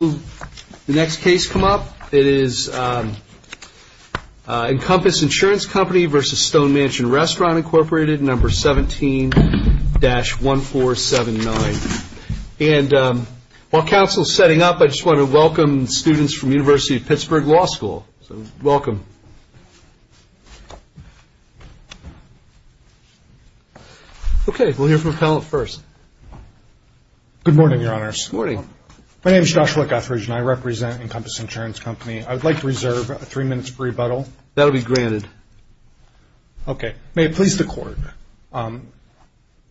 The next case to come up is Encompass Insurance Company v. Stone Mansion Restaurant, Inc. 17-1479. While counsel is setting up, I just want to welcome students from the University of Pittsburgh Law School. Welcome. Okay, we'll hear from a panelist first. Good morning, Your Honors. Morning. My name is Josh Leckathridge, and I represent Encompass Insurance Company. I would like to reserve three minutes for rebuttal. That will be granted. Okay. May it please the Court,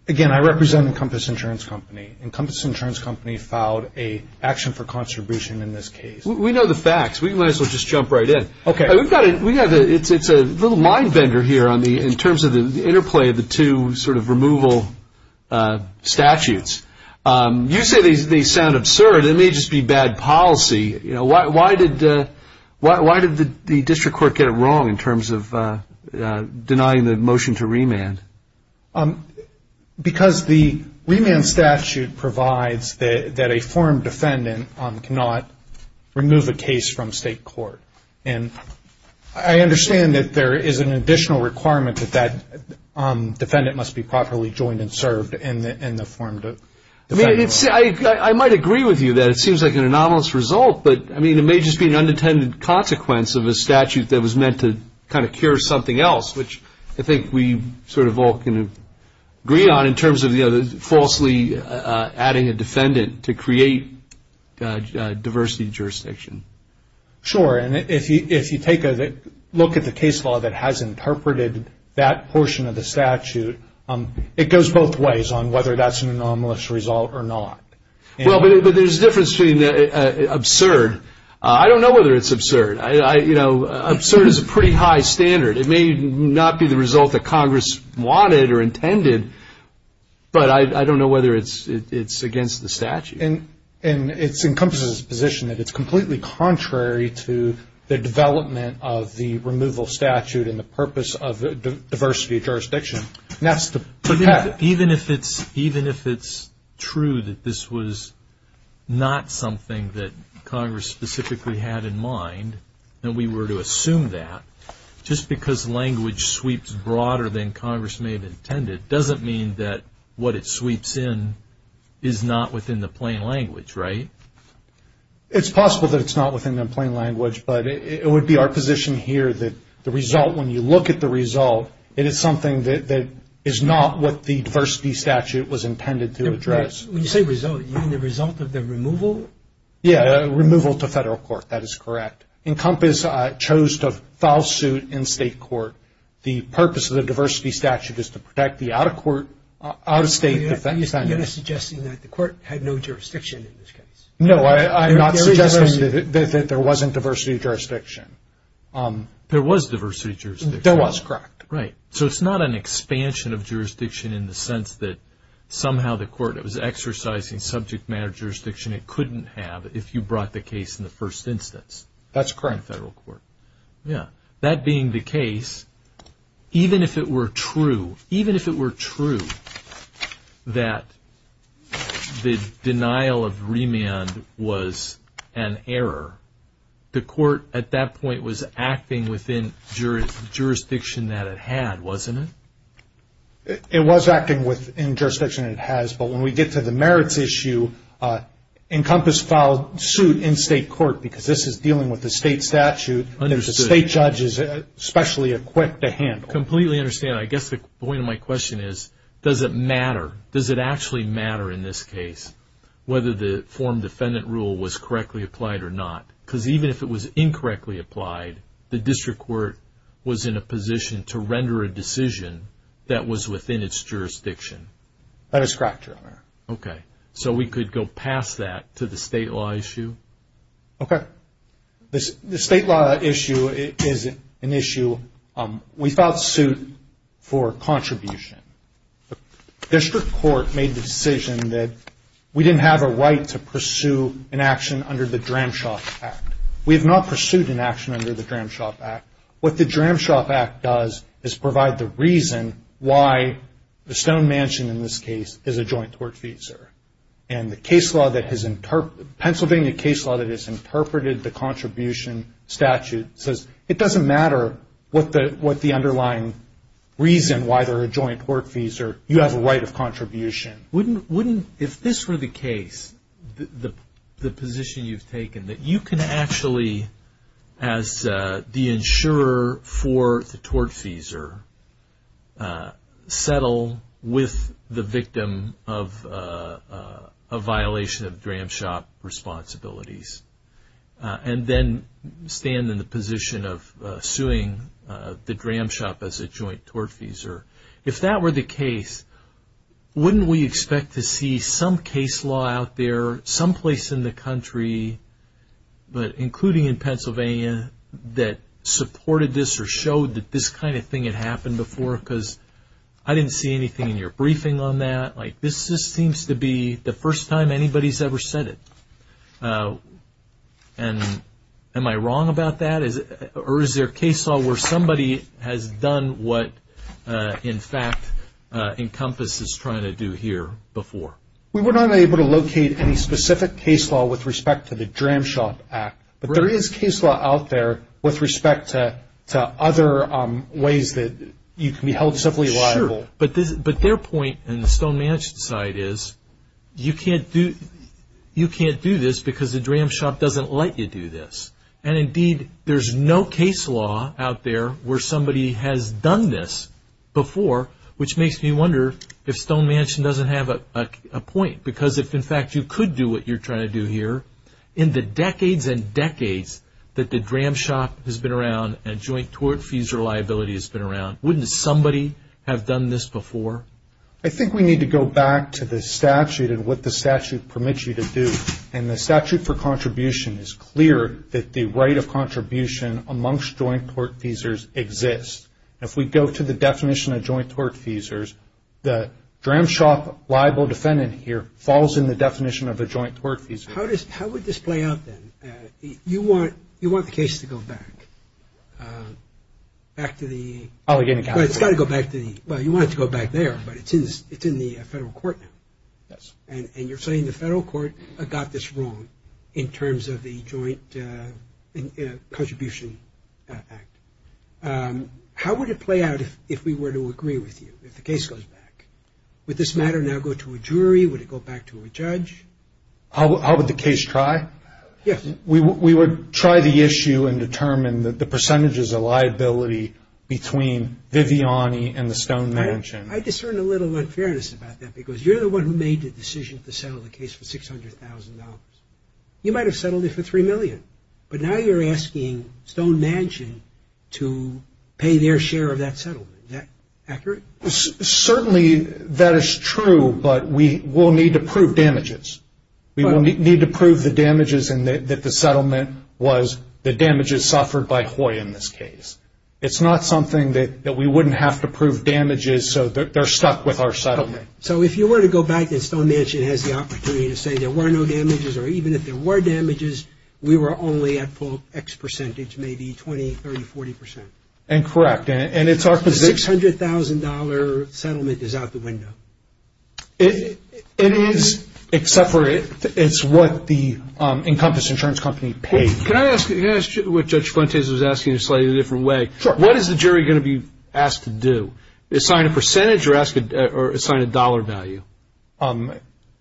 again, I represent Encompass Insurance Company. Encompass Insurance Company filed an action for contribution in this case. We know the facts. We might as well just jump right in. Okay. We've got a, we have a, it's a little mind bender here on the, in terms of the interplay of the two sort of removal statutes. You say they sound absurd. It may just be bad policy. You know, why did, why did the District Court get it wrong in terms of denying the motion to remand? Because the remand statute provides that a formed defendant cannot remove a case from state court. And I understand that there is an additional requirement that that defendant must be properly joined and served in the, in the formed defendant. I mean, I might agree with you that it seems like an anomalous result, but I mean, it may just be an unintended consequence of a statute that was meant to kind of cure something else, which I think we sort of all can agree on in terms of, you know, falsely adding a defendant to create diversity of jurisdiction. Sure. And if you take a look at the case law that has interpreted that portion of the statute, it goes both ways on whether that's an anomalous result or not. Well, but there's a difference between absurd. I don't know whether it's absurd. I, you know, absurd is a pretty high standard. It may not be the result that Congress wanted or intended, but I don't know whether it's, it's against the statute. And it encompasses a position that it's completely contrary to the development of the removal statute and the purpose of the diversity of jurisdiction, and that's to protect. Even if it's, even if it's true that this was not something that Congress specifically had in mind, and we were to assume that, just because language sweeps broader than Congress may have intended, doesn't mean that what it sweeps in is not within the plain language, right? It's possible that it's not within the plain language, but it would be our position here that the result, when you look at the result, it is something that is not what the diversity statute was intended to address. When you say result, you mean the result of the removal? Yeah, removal to federal court. That is correct. Encompass chose to foul suit in state court. The purpose of the diversity statute is to protect the out-of-court, out-of-state defendants. You're suggesting that the court had no jurisdiction in this case. No, I'm not suggesting that there wasn't diversity of jurisdiction. There was diversity of jurisdiction. There was, correct. Right. So it's not an expansion of jurisdiction in the sense that somehow the court was exercising subject matter jurisdiction it couldn't have if you brought the case in the first instance. That's correct. Federal court. Yeah. That being the case, even if it were true, even if it were true that the denial of remand was an error, the court at that point was acting within jurisdiction that it had, wasn't it? It was acting within jurisdiction it has, but when we get to the merits issue, Encompass filed suit in state court because this is dealing with the state statute that the state judge is specially equipped to handle. Completely understand. I guess the point of my question is, does it matter? Does it actually matter in this case whether the form defendant rule was correctly applied or not? Because even if it was incorrectly applied, the district court was in a position to render a decision that was within its jurisdiction. That is correct, Your Honor. Okay. So we could go past that to the state law issue? Okay. The state law issue is an issue, we filed suit for contribution. District court made the decision that we didn't have a right to pursue an action under the Dramshop Act. We have not pursued an action under the Dramshop Act. What the Dramshop Act does is provide the reason why the Stone Mansion in this case is a joint tortfeasor. And the Pennsylvania case law that has interpreted the contribution statute says it doesn't matter what the underlying reason why they're a joint tortfeasor, you have a right of contribution. If this were the case, the position you've taken, that you can actually, as the insurer for the tortfeasor, settle with the victim of a violation of Dramshop responsibilities and then stand in the position of suing the Dramshop as a joint tortfeasor. If that were the case, wouldn't we expect to see some case law out there, someplace in the country, but including in Pennsylvania, that supported this or showed that this kind of thing had happened before because I didn't see anything in your briefing on that. This seems to be the first time anybody's ever said it. Am I wrong about that or is there case law where somebody has done what, in fact, Encompass is trying to do here before? We were not able to locate any specific case law with respect to the Dramshop Act, but there is case law out there with respect to other ways that you can be held civilly liable. But their point in the Stone Mansion side is, you can't do this because the Dramshop doesn't let you do this. And indeed, there's no case law out there where somebody has done this before, which makes me wonder if Stone Mansion doesn't have a point because if, in fact, you could do what you're trying to do here, in the decades and decades that the Dramshop has been around and joint tortfeasor liability has been around, wouldn't somebody have done this before? I think we need to go back to the statute and what the statute permits you to do. And the statute for contribution is clear that the right of contribution amongst joint tortfeasors exists. If we go to the definition of joint tortfeasors, the Dramshop liable defendant here falls in the definition of a joint tortfeasor. How would this play out then? You want the case to go back. Back to the... I'll get it. It's got to go back to the... Well, you want it to go back there, but it's in the federal court now. Yes. And you're saying the federal court got this wrong in terms of the Joint Contribution Act. How would it play out if we were to agree with you, if the case goes back? Would this matter now go to a jury? Would it go back to a judge? How would the case try? Yes. We would try the issue and determine the percentages of liability between Viviani and the Stone Mansion. I discern a little unfairness about that because you're the one who made the decision to settle the case for $600,000. You might have settled it for $3 million. But now you're asking Stone Mansion to pay their share of that settlement. Is that accurate? Certainly that is true, but we will need to prove damages. We will need to prove the damages and that the settlement was the damages suffered by Hoy in this case. It's not something that we wouldn't have to prove damages so they're stuck with our settlement. Okay. So if you were to go back and Stone Mansion has the opportunity to say there were no damages or even if there were damages, we were only at full X percentage, maybe 20, 30, 40 percent. And correct. And it's our position. The $600,000 settlement is out the window. It is, except for it's what the Encompass Insurance Company paid. Can I ask what Judge Fuentes was asking in a slightly different way? Sure. What is the jury going to be asked to do? Assign a percentage or assign a dollar value?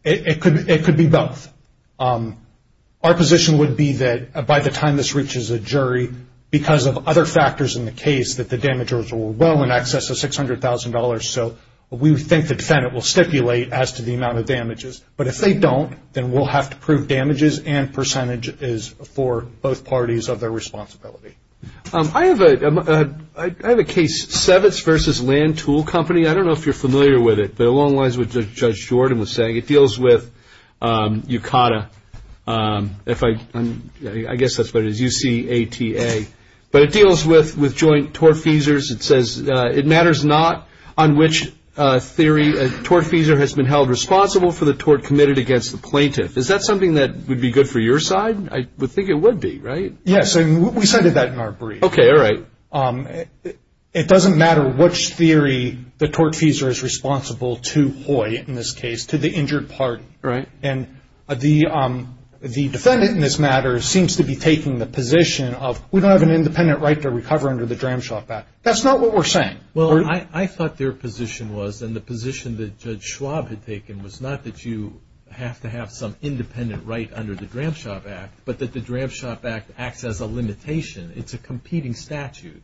It could be both. Our position would be that by the time this reaches a jury, because of other factors in the case, that the damages were well in excess of $600,000. So we think the defendant will stipulate as to the amount of damages. But if they don't, then we'll have to prove damages and percentage is for both parties of their responsibility. I have a case, Sevitz v. Land Tool Company. I don't know if you're familiar with it. But along the lines of what Judge Jordan was saying, it deals with UCATA. I guess that's what it is, U-C-A-T-A. But it deals with joint tortfeasors. It says it matters not on which theory a tortfeasor has been held responsible for the tort committed against the plaintiff. Is that something that would be good for your side? I would think it would be, right? We cited that in our brief. Okay. All right. It doesn't matter which theory the tortfeasor is responsible to Hoy, in this case, to the injured party. Right. And the defendant in this matter seems to be taking the position of, we don't have an independent right to recover under the Dramshop Act. That's not what we're saying. Well, I thought their position was, and the position that Judge Schwab had taken, was not that you have to have some independent right under the Dramshop Act, but that the Dramshop Act acts as a limitation. It's a competing statute.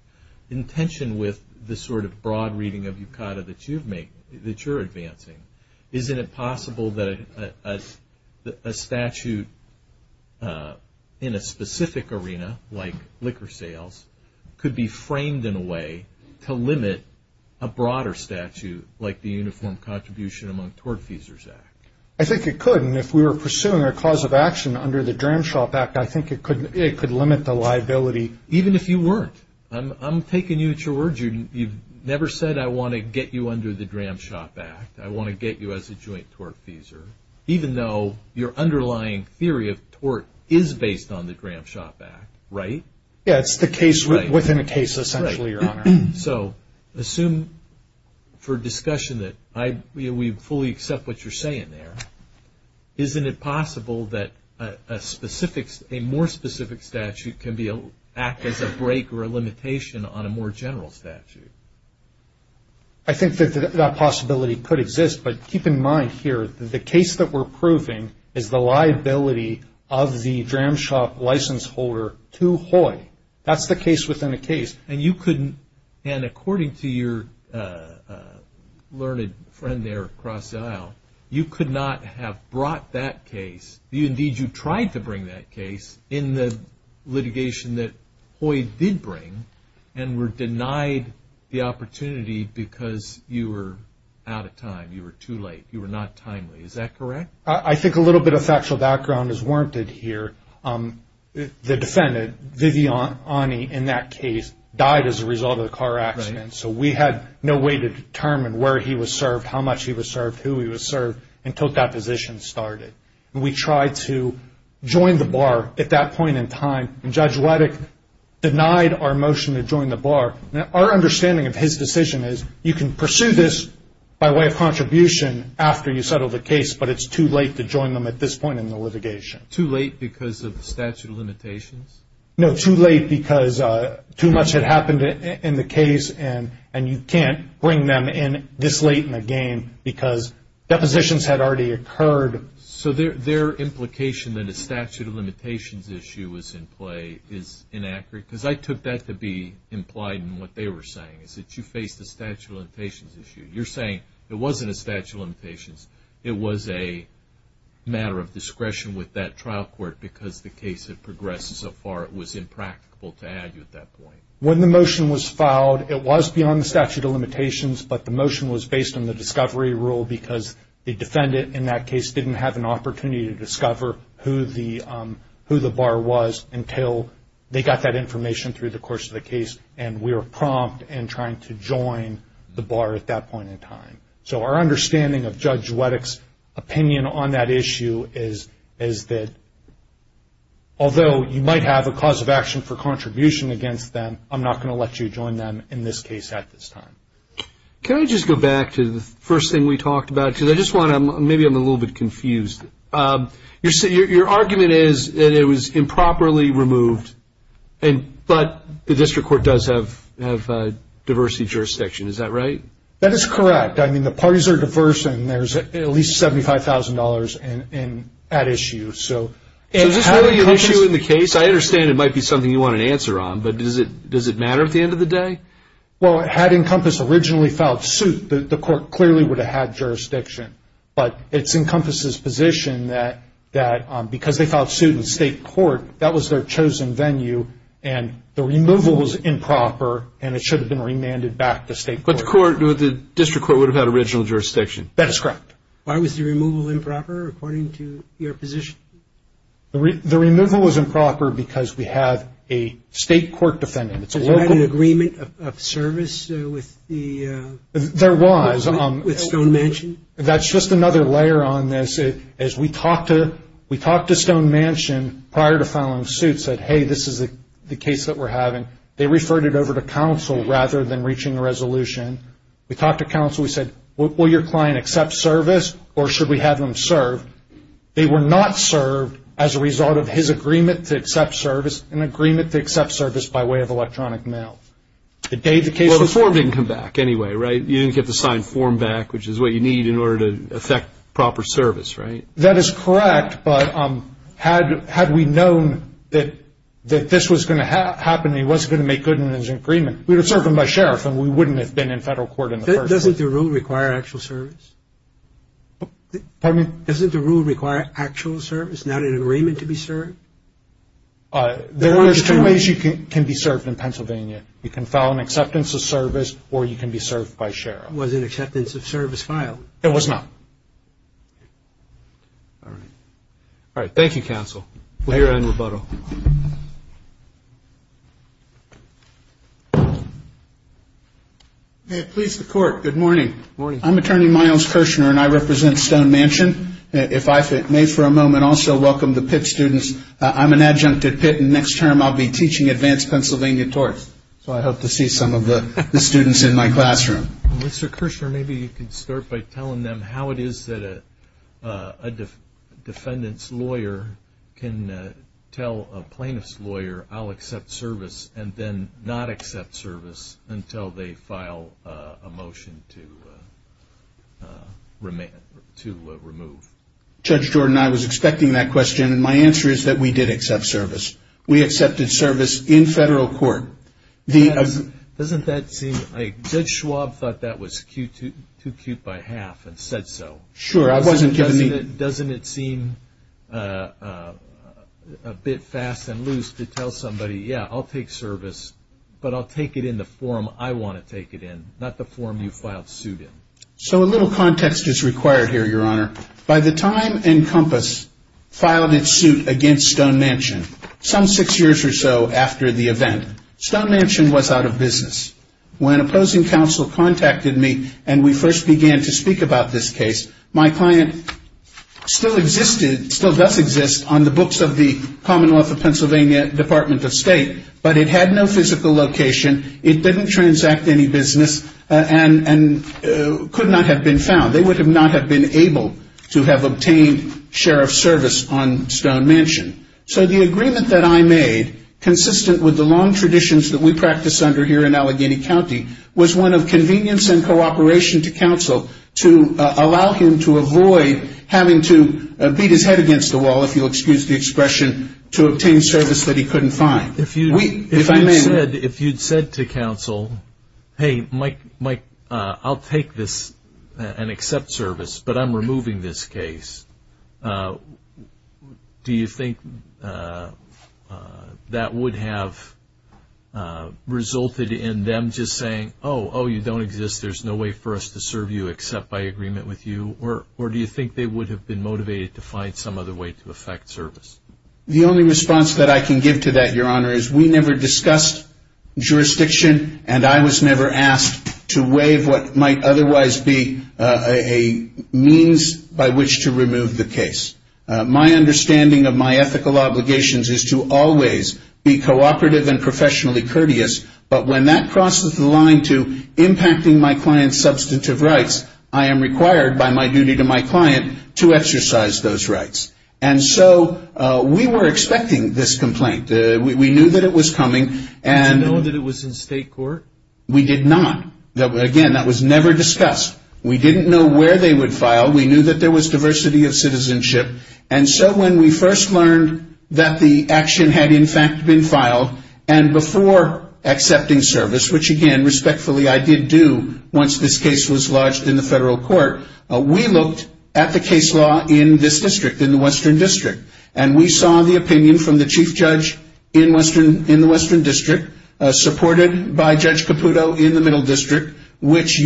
In tension with the sort of broad reading of U-C-A-T-A that you're advancing, isn't it possible that a statute in a specific arena, like liquor sales, could be framed in a way to limit a broader statute, like the Uniform Contribution Among Tortfeasors Act? I think it could. And if we were pursuing our cause of action under the Dramshop Act, I think it could limit the liability. Even if you weren't. I'm taking you at your word. You've never said, I want to get you under the Dramshop Act. I want to get you as a joint tortfeasor, even though your underlying theory of tort is based on the Dramshop Act, right? Yeah, it's the case within a case, essentially, Your Honor. So assume for discussion that we fully accept what you're saying there. Isn't it possible that a more specific statute can act as a break or a limitation on a more general statute? I think that that possibility could exist. But keep in mind here, the case that we're proving is the liability of the Dramshop license holder to Hoy. That's the case within a case. And according to your learned friend there across the aisle, you could not have brought that case. Indeed, you tried to bring that case in the litigation that Hoy did bring and were denied the opportunity because you were out of time. You were too late. You were not timely. Is that correct? I think a little bit of factual background is warranted here. The defendant, Viviani, in that case, died as a result of the car accident. So we had no way to determine where he was served, how much he was served, who he was served until that position started. We tried to join the bar at that point in time, and Judge Waddick denied our motion to join the bar. Now, our understanding of his decision is you can pursue this by way of contribution after you settle the case, but it's too late to join them at this point in the litigation. Too late because of statute of limitations? No, too late because too much had happened in the case, and you can't bring them in this late in the game because depositions had already occurred. So their implication that a statute of limitations issue was in play is inaccurate? Because I took that to be implied in what they were saying, is that you faced a statute of limitations issue. You're saying it wasn't a statute of limitations. It was a matter of discretion with that trial court because the case had progressed so far it was impracticable to add to at that point. When the motion was filed, it was beyond the statute of limitations, but the motion was based on the discovery rule because the defendant in that case didn't have an opportunity to discover who the bar was until they got that information through the course of the case, and we were prompt in trying to join the bar at that point in time. So our understanding of Judge Waddick's opinion on that issue is that although you might have a cause of action for contribution against them, I'm not going to let you join them in this case at this time. Can I just go back to the first thing we talked about? Maybe I'm a little bit confused. Your argument is that it was improperly removed, but the district court does have diversity jurisdiction. Is that right? That is correct. I mean, the parties are diverse, and there's at least $75,000 at issue. So is this really an issue in the case? I understand it might be something you want an answer on, but does it matter at the end of the day? Well, had Encompass originally filed suit, the court clearly would have had jurisdiction, but it's Encompass's position that because they filed suit in state court, that was their chosen venue, and the removal was improper, and it should have been remanded back to state court. But the district court would have had original jurisdiction. That is correct. Why was the removal improper according to your position? The removal was improper because we have a state court defendant. Is there an agreement of service with the? There was. With Stone Mansion? That's just another layer on this. As we talked to Stone Mansion prior to filing suit, said, hey, this is the case that we're having. They referred it over to counsel rather than reaching a resolution. We talked to counsel. We said, will your client accept service, or should we have them served? They were not served as a result of his agreement to accept service, an agreement to accept service by way of electronic mail. Well, the form didn't come back anyway, right? You didn't get the signed form back, which is what you need in order to effect proper service, right? That is correct, but had we known that this was going to happen and he wasn't going to make good on his agreement, we would have served him by sheriff and we wouldn't have been in federal court in the first place. Doesn't the rule require actual service? Pardon me? Doesn't the rule require actual service, not an agreement to be served? There are two ways you can be served in Pennsylvania. You can file an acceptance of service or you can be served by sheriff. Was an acceptance of service filed? It was not. All right. All right. Thank you, counsel. We'll hear in rebuttal. May it please the court, good morning. Good morning. I'm Attorney Miles Kirshner and I represent Stone Mansion. If I may for a moment also welcome the Pitt students. I'm an adjunct at Pitt and next term I'll be teaching advanced Pennsylvania torts, so I hope to see some of the students in my classroom. Mr. Kirshner, maybe you can start by telling them how it is that a defendant's lawyer can tell a plaintiff's lawyer I'll accept service and then not accept service until they file a motion to remove. Judge Jordan, I was expecting that question, and my answer is that we did accept service. We accepted service in federal court. Doesn't that seem like Judge Schwab thought that was too cute by half and said so? Sure. Doesn't it seem a bit fast and loose to tell somebody, yeah, I'll take service, but I'll take it in the form I want to take it in, not the form you filed suit in? So a little context is required here, Your Honor. By the time Encompass filed its suit against Stone Mansion, some six years or so after the event, Stone Mansion was out of business. When opposing counsel contacted me and we first began to speak about this case, my client still does exist on the books of the Commonwealth of Pennsylvania Department of State, but it had no physical location. It didn't transact any business and could not have been found. They would not have been able to have obtained sheriff's service on Stone Mansion. So the agreement that I made, consistent with the long traditions that we practice under here in Allegheny County, was one of convenience and cooperation to counsel to allow him to avoid having to beat his head against the wall, if you'll excuse the expression, to obtain service that he couldn't find. If you'd said to counsel, hey, Mike, I'll take this and accept service, but I'm removing this case, do you think that would have resulted in them just saying, oh, you don't exist, there's no way for us to serve you except by agreement with you, or do you think they would have been motivated to find some other way to effect service? The only response that I can give to that, Your Honor, is we never discussed jurisdiction and I was never asked to waive what might otherwise be a means by which to remove the case. My understanding of my ethical obligations is to always be cooperative and professionally courteous, but when that crosses the line to impacting my client's substantive rights, I am required by my duty to my client to exercise those rights. And so we were expecting this complaint. We knew that it was coming. Did you know that it was in state court? We did not. Again, that was never discussed. We didn't know where they would file. We knew that there was diversity of citizenship. And so when we first learned that the action had, in fact, been filed, and before accepting service, which, again, respectfully I did do once this case was lodged in the federal court, we looked at the case law in this district, in the Western District, and we saw the opinion from the chief judge in the Western District, supported by Judge Caputo in the Middle District, which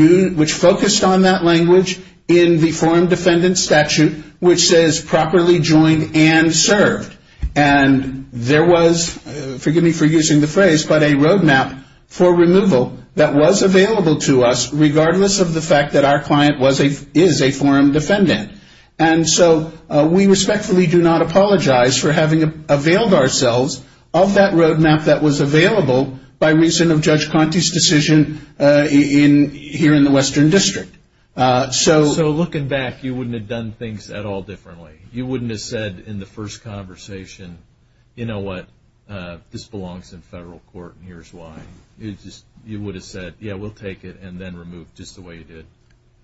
focused on that language in the forum defendant statute, which says properly joined and served. And there was, forgive me for using the phrase, but a roadmap for removal that was available to us regardless of the fact that our client is a forum defendant. And so we respectfully do not apologize for having availed ourselves of that roadmap that was available by reason of Judge Conte's decision here in the Western District. So looking back, you wouldn't have done things at all differently. You wouldn't have said in the first conversation, you know what, this belongs in federal court and here's why. You would have said, yeah, we'll take it and then remove just the way you did.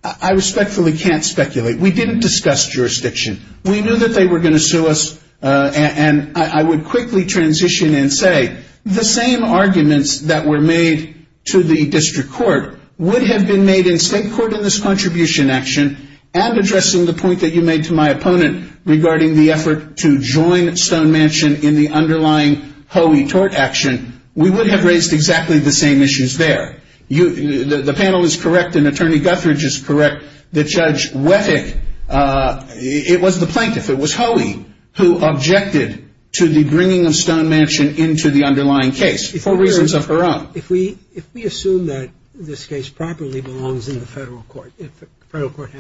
I respectfully can't speculate. We didn't discuss jurisdiction. We knew that they were going to sue us, and I would quickly transition and say, the same arguments that were made to the district court would have been made in state court in this contribution action, and addressing the point that you made to my opponent regarding the effort to join Stone Mansion in the underlying Hoei tort action, we would have raised exactly the same issues there. The panel is correct and Attorney Guthridge is correct. The Judge Wethick, it was the plaintiff, it was Hoei, who objected to the bringing of Stone Mansion into the underlying case for reasons of her own. If we assume that this case properly belongs in the federal court, if the federal court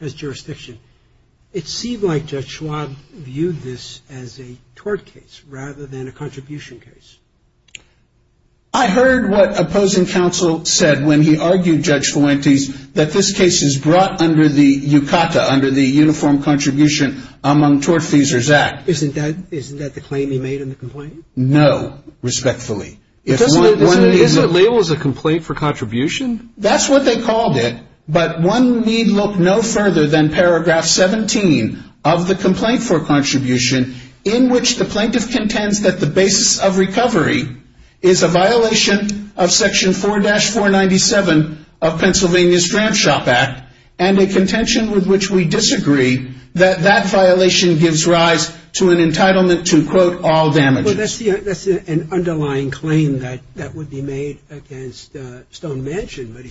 has jurisdiction, it seemed like Judge Schwab viewed this as a tort case rather than a contribution case. I heard what opposing counsel said when he argued, Judge Fuentes, that this case is brought under the UCATA, under the Uniform Contribution Among Tort Feasers Act. Isn't that the claim he made in the complaint? No, respectfully. Isn't it labeled as a complaint for contribution? That's what they called it, but one need look no further than paragraph 17 of the complaint for contribution, in which the plaintiff contends that the basis of recovery is a violation of section 4-497 of Pennsylvania's Dram Shop Act and a contention with which we disagree that that violation gives rise to an entitlement to, quote, all damages. Well, that's an underlying claim that would be made against Stone Mansion, but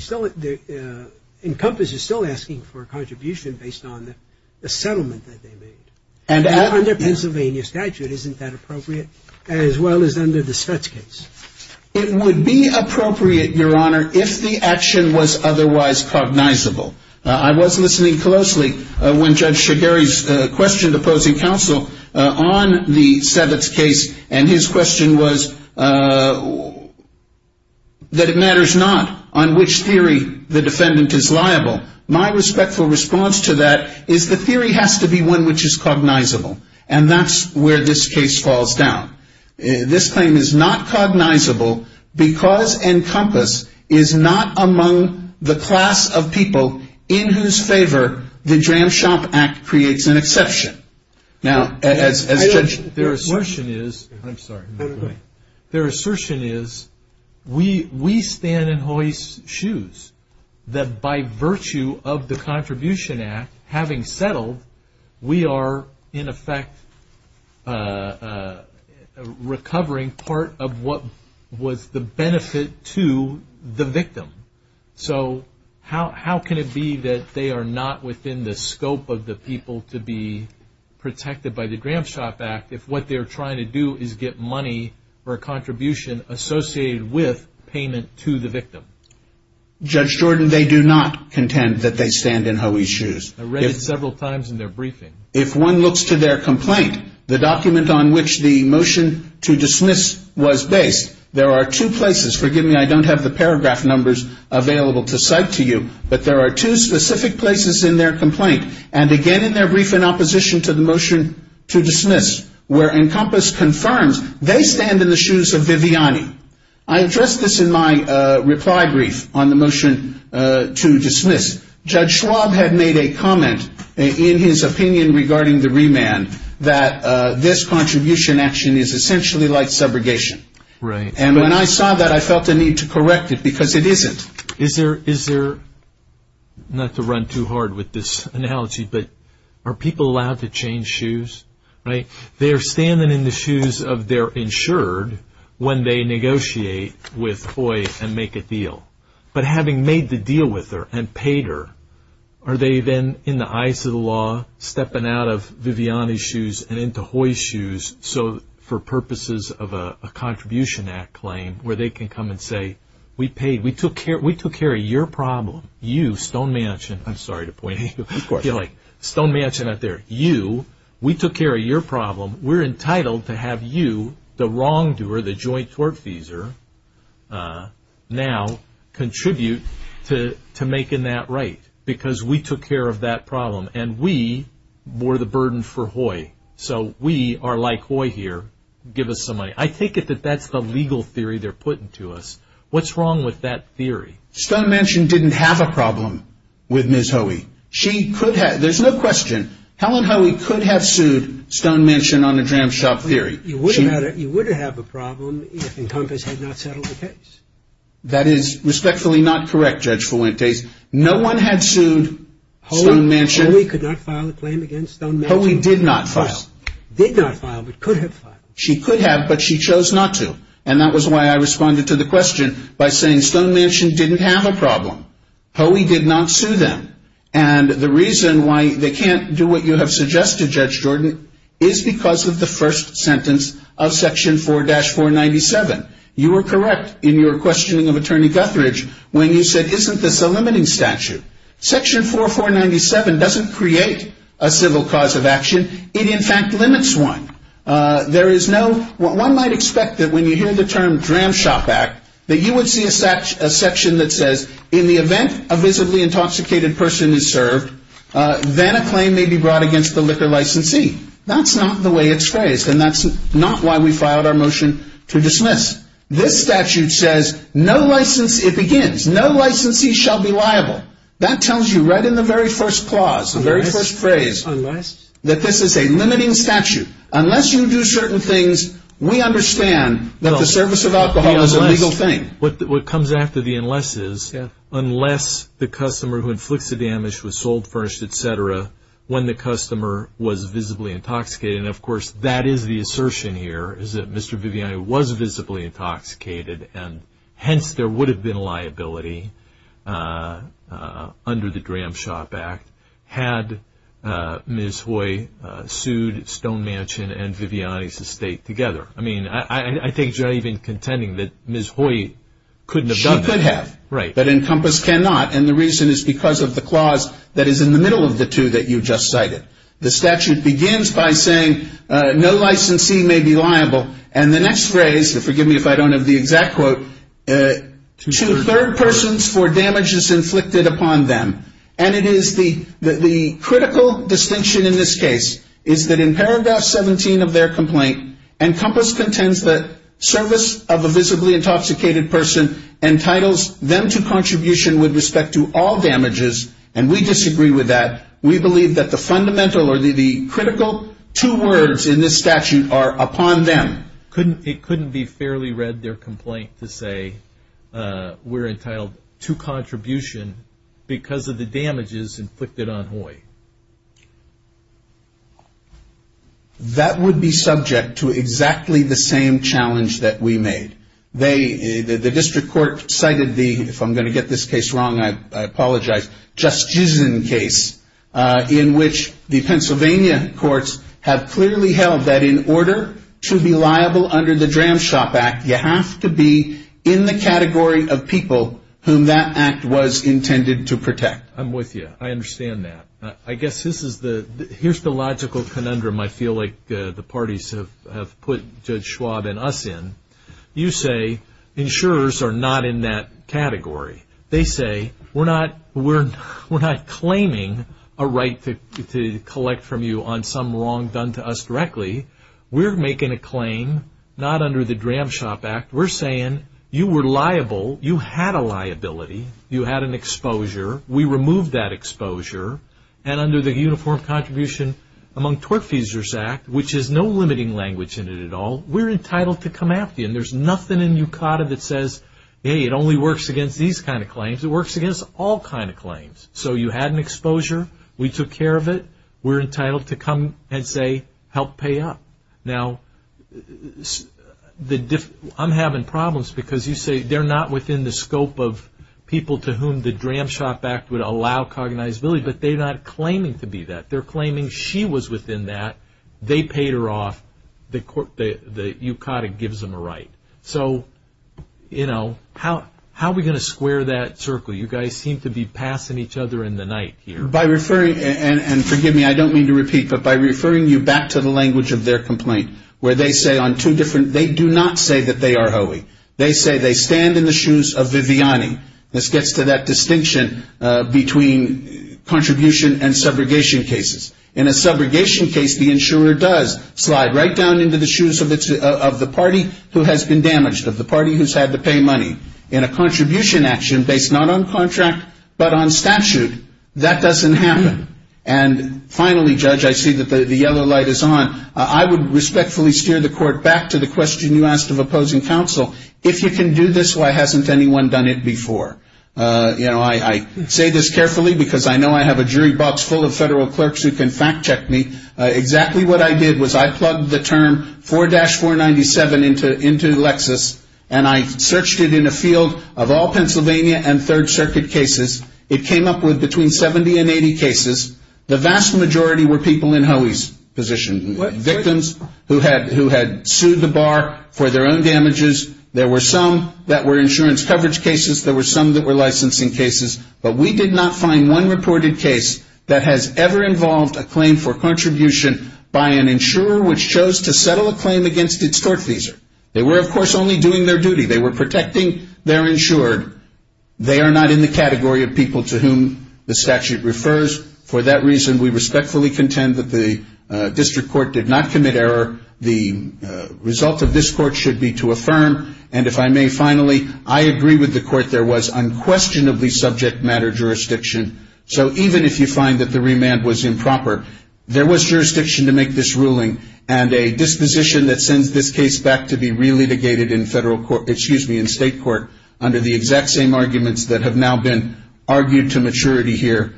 Encompass is still asking for a contribution based on the settlement that they made. Under Pennsylvania statute, isn't that appropriate, as well as under the Svets case? It would be appropriate, Your Honor, if the action was otherwise cognizable. I was listening closely when Judge Shigeri questioned opposing counsel on the Svets case, and his question was that it matters not on which theory the defendant is liable. My respectful response to that is the theory has to be one which is cognizable, and that's where this case falls down. This claim is not cognizable because Encompass is not among the class of people in whose favor the Dram Shop Act creates an exception. Their assertion is we stand in Hoy's shoes that by virtue of the Contribution Act having settled, we are, in effect, recovering part of what was the benefit to the victim. So how can it be that they are not within the scope of the people to be protected by the Dram Shop Act if what they're trying to do is get money for a contribution associated with payment to the victim? Judge Jordan, they do not contend that they stand in Hoy's shoes. I read it several times in their briefing. If one looks to their complaint, the document on which the motion to dismiss was based, there are two places. Forgive me, I don't have the paragraph numbers available to cite to you, but there are two specific places in their complaint, and again in their brief in opposition to the motion to dismiss, where Encompass confirms they stand in the shoes of Viviani. I addressed this in my reply brief on the motion to dismiss. Judge Schwab had made a comment in his opinion regarding the remand that this contribution action is essentially like subrogation. And when I saw that, I felt a need to correct it because it isn't. Is there, not to run too hard with this analogy, but are people allowed to change shoes? They are standing in the shoes of their insured when they negotiate with Hoy and make a deal. But having made the deal with her and paid her, are they then in the eyes of the law stepping out of Viviani's shoes and into Hoy's shoes for purposes of a Contribution Act claim, where they can come and say, we took care of your problem. You, Stone Mansion, I'm sorry to point at you. You're like, Stone Mansion out there. You, we took care of your problem. We're entitled to have you, the wrongdoer, the joint tortfeasor, now contribute to making that right because we took care of that problem and we were the burden for Hoy. So we are like Hoy here. Give us some money. I take it that that's the legal theory they're putting to us. What's wrong with that theory? Stone Mansion didn't have a problem with Ms. Hoey. She could have, there's no question, Helen Hoey could have sued Stone Mansion on the Dram Shop Theory. You would have a problem if Encompass had not settled the case. That is respectfully not correct, Judge Fuentes. No one had sued Stone Mansion. Hoey could not file a claim against Stone Mansion. Hoey did not file. Did not file, but could have filed. She could have, but she chose not to. And that was why I responded to the question by saying Stone Mansion didn't have a problem. Hoey did not sue them. And the reason why they can't do what you have suggested, Judge Jordan, is because of the first sentence of Section 4-497. You were correct in your questioning of Attorney Guthridge when you said, isn't this a limiting statute? Section 4-497 doesn't create a civil cause of action. It, in fact, limits one. There is no, one might expect that when you hear the term Dram Shop Act, that you would see a section that says, in the event a visibly intoxicated person is served, then a claim may be brought against the liquor licensee. That's not the way it's phrased, and that's not why we filed our motion to dismiss. This statute says, no licensee, it begins, no licensee shall be liable. That tells you right in the very first clause, the very first phrase, that this is a limiting statute. Unless you do certain things, we understand that the service of alcohol is a legal thing. What comes after the unless is, unless the customer who inflicts the damage was sold first, et cetera, when the customer was visibly intoxicated. And, of course, that is the assertion here, is that Mr. Viviani was visibly intoxicated, and hence there would have been a liability under the Dram Shop Act had Ms. Hoy sued Stone Mansion and Viviani's estate together. I mean, I think you're not even contending that Ms. Hoy couldn't have done that. She could have. Right. But Encompass cannot, and the reason is because of the clause that is in the middle of the two that you just cited. The statute begins by saying, no licensee may be liable, and the next phrase, and forgive me if I don't have the exact quote, to third persons for damages inflicted upon them. And it is the critical distinction in this case is that in paragraph 17 of their complaint, Encompass contends that service of a visibly intoxicated person entitles them to contribution with respect to all damages, and we disagree with that. We believe that the fundamental or the critical two words in this statute are upon them. It couldn't be fairly read their complaint to say we're entitled to contribution because of the damages inflicted on Hoy. That would be subject to exactly the same challenge that we made. The district court cited the, if I'm going to get this case wrong, I apologize, Justizen case in which the Pennsylvania courts have clearly held that in order to be liable under the Dram Shop Act, you have to be in the category of people whom that act was intended to protect. I'm with you. I understand that. I guess this is the, here's the logical conundrum I feel like the parties have put Judge Schwab and us in. You say insurers are not in that category. They say we're not claiming a right to collect from you on some wrong done to us directly. We're making a claim not under the Dram Shop Act. We're saying you were liable. You had a liability. You had an exposure. We removed that exposure. And under the Uniform Contribution Among Tort Feasers Act, which is no limiting language in it at all, we're entitled to come after you. And there's nothing in UCADA that says, hey, it only works against these kind of claims. It works against all kind of claims. So you had an exposure. We took care of it. We're entitled to come and say help pay up. Now, I'm having problems because you say they're not within the scope of people to whom the Dram Shop Act would allow cognizability, but they're not claiming to be that. They're claiming she was within that. They paid her off. The UCADA gives them a right. So, you know, how are we going to square that circle? You guys seem to be passing each other in the night here. By referring, and forgive me, I don't mean to repeat, but by referring you back to the language of their complaint, where they say on two different, they do not say that they are HOE. They say they stand in the shoes of Viviani. This gets to that distinction between contribution and subrogation cases. In a subrogation case, the insurer does slide right down into the shoes of the party who has been damaged, of the party who's had to pay money. In a contribution action, based not on contract but on statute, that doesn't happen. And finally, Judge, I see that the yellow light is on. I would respectfully steer the court back to the question you asked of opposing counsel. If you can do this, why hasn't anyone done it before? You know, I say this carefully because I know I have a jury box full of federal clerks who can fact check me. Exactly what I did was I plugged the term 4-497 into Lexis, and I searched it in a field of all Pennsylvania and Third Circuit cases. It came up with between 70 and 80 cases. The vast majority were people in HOE's position, victims who had sued the bar for their own damages. There were some that were insurance coverage cases. There were some that were licensing cases. But we did not find one reported case that has ever involved a claim for contribution by an insurer which chose to settle a claim against its tortfeasor. They were, of course, only doing their duty. They were protecting their insured. They are not in the category of people to whom the statute refers. For that reason, we respectfully contend that the district court did not commit error. The result of this court should be to affirm. And if I may, finally, I agree with the court. There was unquestionably subject matter jurisdiction. So even if you find that the remand was improper, there was jurisdiction to make this ruling. And a disposition that sends this case back to be relitigated in federal court ‑‑ excuse me, in state court under the exact same arguments that have now been argued to maturity here,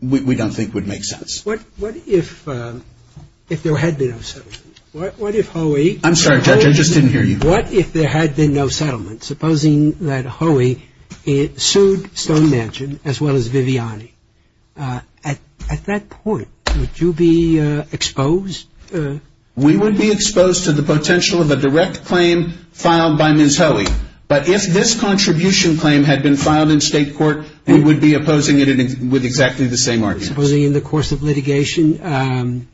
we don't think would make sense. What if there had been a ‑‑ what if HOE ‑‑ I'm sorry, Judge. I just didn't hear you. What if there had been no settlement? Supposing that HOE sued Stone Mansion as well as Viviani. At that point, would you be exposed? We would be exposed to the potential of a direct claim filed by Ms. HOE. But if this contribution claim had been filed in state court, we would be opposing it with exactly the same arguments. Supposing in the course of litigation,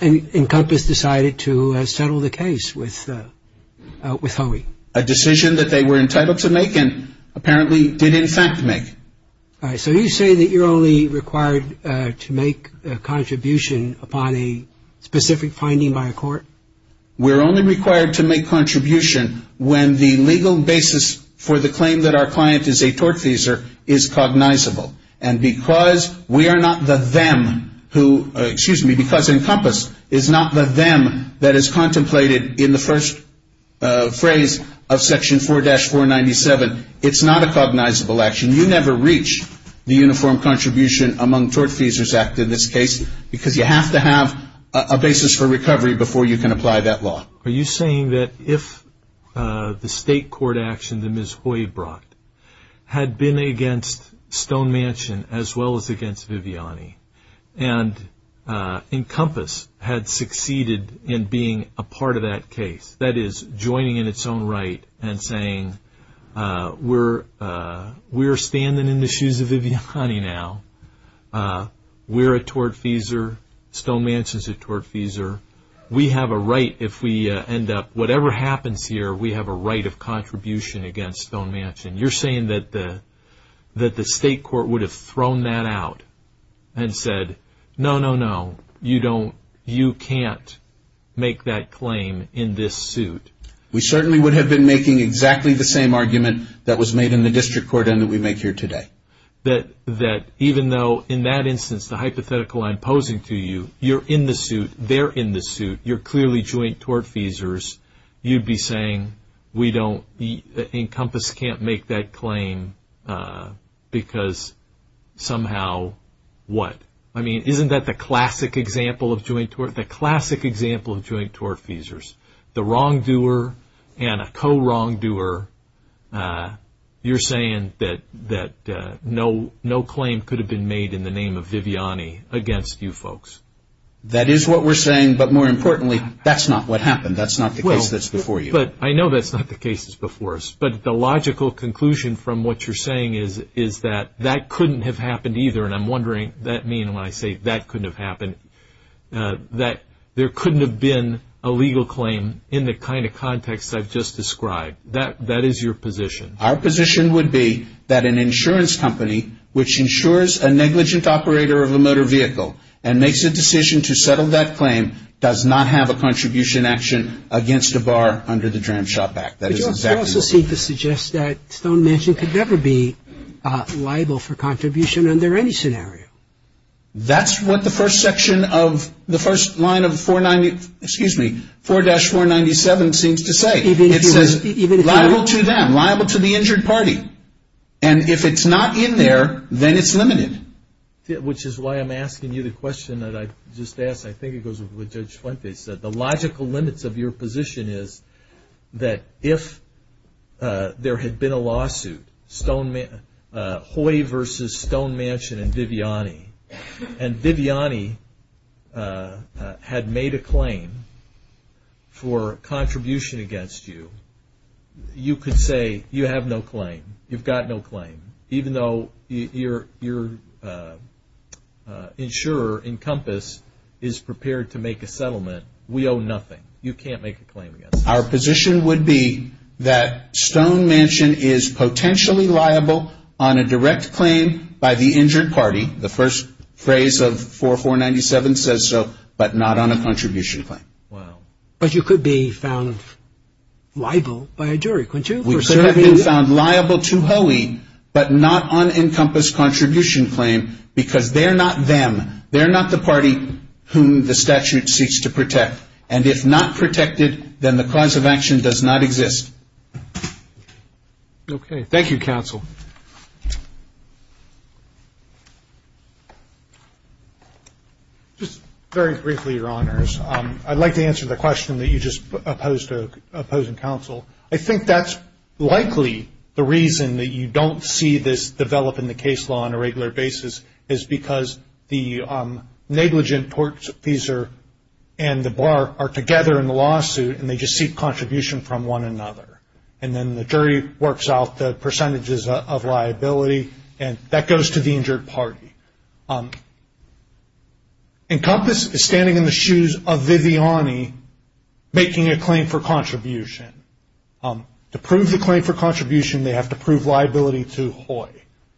Encompass decided to settle the case with HOE? A decision that they were entitled to make and apparently did, in fact, make. So you say that you're only required to make a contribution upon a specific finding by a court? We're only required to make contribution when the legal basis for the claim that our client is a tortfeasor is cognizable. And because we are not the them who ‑‑ excuse me, because Encompass is not the them that is contemplated in the first phrase of section 4‑497, it's not a cognizable action. You never reach the uniform contribution among tortfeasors act in this case because you have to have a basis for recovery before you can apply that law. Are you saying that if the state court action that Ms. HOE brought had been against Stone Mansion as well as against Viviani, and Encompass had succeeded in being a part of that case, that is, joining in its own right and saying, we're standing in the shoes of Viviani now, we're a tortfeasor, Stone Mansion is a tortfeasor, we have a right if we end up, whatever happens here, we have a right of contribution against Stone Mansion. You're saying that the state court would have thrown that out and said, no, no, no, you can't make that claim in this suit. We certainly would have been making exactly the same argument that was made in the district court and that we make here today. That even though in that instance the hypothetical I'm posing to you, you're in the suit, they're in the suit, you're clearly joint tortfeasors, you'd be saying Encompass can't make that claim because somehow what? I mean, isn't that the classic example of joint tortfeasors? The wrongdoer and a co-wrongdoer, you're saying that no claim could have been made in the name of Viviani against you folks. That is what we're saying, but more importantly, that's not what happened. That's not the case that's before you. I know that's not the case that's before us, but the logical conclusion from what you're saying is that that couldn't have happened either, and I'm wondering, that means when I say that couldn't have happened, that there couldn't have been a legal claim in the kind of context I've just described. Right. That is your position. Our position would be that an insurance company which insures a negligent operator of a motor vehicle and makes a decision to settle that claim does not have a contribution action against a bar under the Dram Shop Act. That is exactly what we're saying. But you also seem to suggest that Stone Mansion could never be liable for contribution under any scenario. That's what the first section of the first line of 490, excuse me, 4-497 seems to say. It says liable to them, liable to the injured party. And if it's not in there, then it's limited. Which is why I'm asking you the question that I just asked. I think it goes with what Judge Fuente said. The logical limits of your position is that if there had been a lawsuit, Hoy versus Stone Mansion and Viviani, and Viviani had made a claim for contribution against you, you could say you have no claim. You've got no claim. Even though your insurer, Encompass, is prepared to make a settlement, we owe nothing. You can't make a claim against us. Our position would be that Stone Mansion is potentially liable on a direct claim by the injured party, the first phrase of 4-497 says so, but not on a contribution claim. Wow. But you could be found liable by a jury, couldn't you? We could have been found liable to Hoey, but not on Encompass's contribution claim because they're not them. They're not the party whom the statute seeks to protect. And if not protected, then the cause of action does not exist. Okay. Thank you, counsel. Just very briefly, Your Honors, I'd like to answer the question that you just posed to opposing counsel. I think that's likely the reason that you don't see this develop in the case law on a regular basis, is because the negligent tortfeasor and the bar are together in the lawsuit, and they just seek contribution from one another. And then the jury works out the percentages of liability, and that goes to the injured party. Encompass is standing in the shoes of Viviani making a claim for contribution. To prove the claim for contribution, they have to prove liability to Hoey.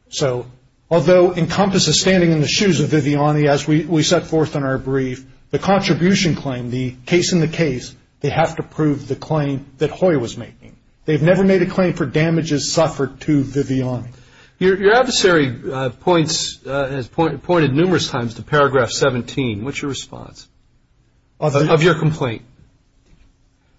So although Encompass is standing in the shoes of Viviani, as we set forth in our brief, the contribution claim, the case in the case, they have to prove the claim that Hoey was making. They've never made a claim for damages suffered to Viviani. Your adversary has pointed numerous times to paragraph 17. What's your response of your complaint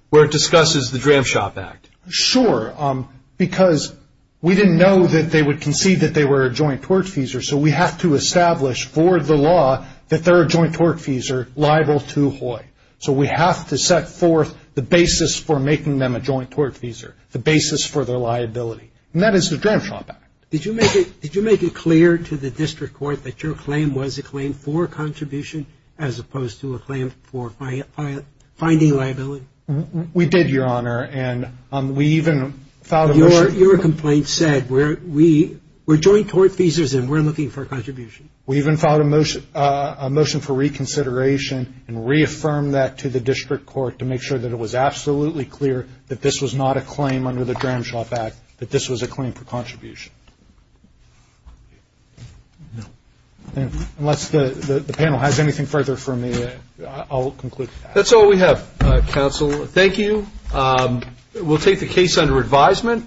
where it discusses the Dram Shop Act? Sure, because we didn't know that they would concede that they were a joint tortfeasor, so we have to establish for the law that they're a joint tortfeasor liable to Hoey. So we have to set forth the basis for making them a joint tortfeasor, the basis for their liability. And that is the Dram Shop Act. Did you make it clear to the district court that your claim was a claim for contribution as opposed to a claim for finding liability? We did, Your Honor, and we even filed a motion. Your complaint said we're joint tortfeasors and we're looking for a contribution. We even filed a motion for reconsideration and reaffirmed that to the district court to make sure that it was absolutely clear that this was not a claim under the Dram Shop Act, that this was a claim for contribution. Unless the panel has anything further for me, I'll conclude. That's all we have, counsel. Thank you. We'll take the case under advisement.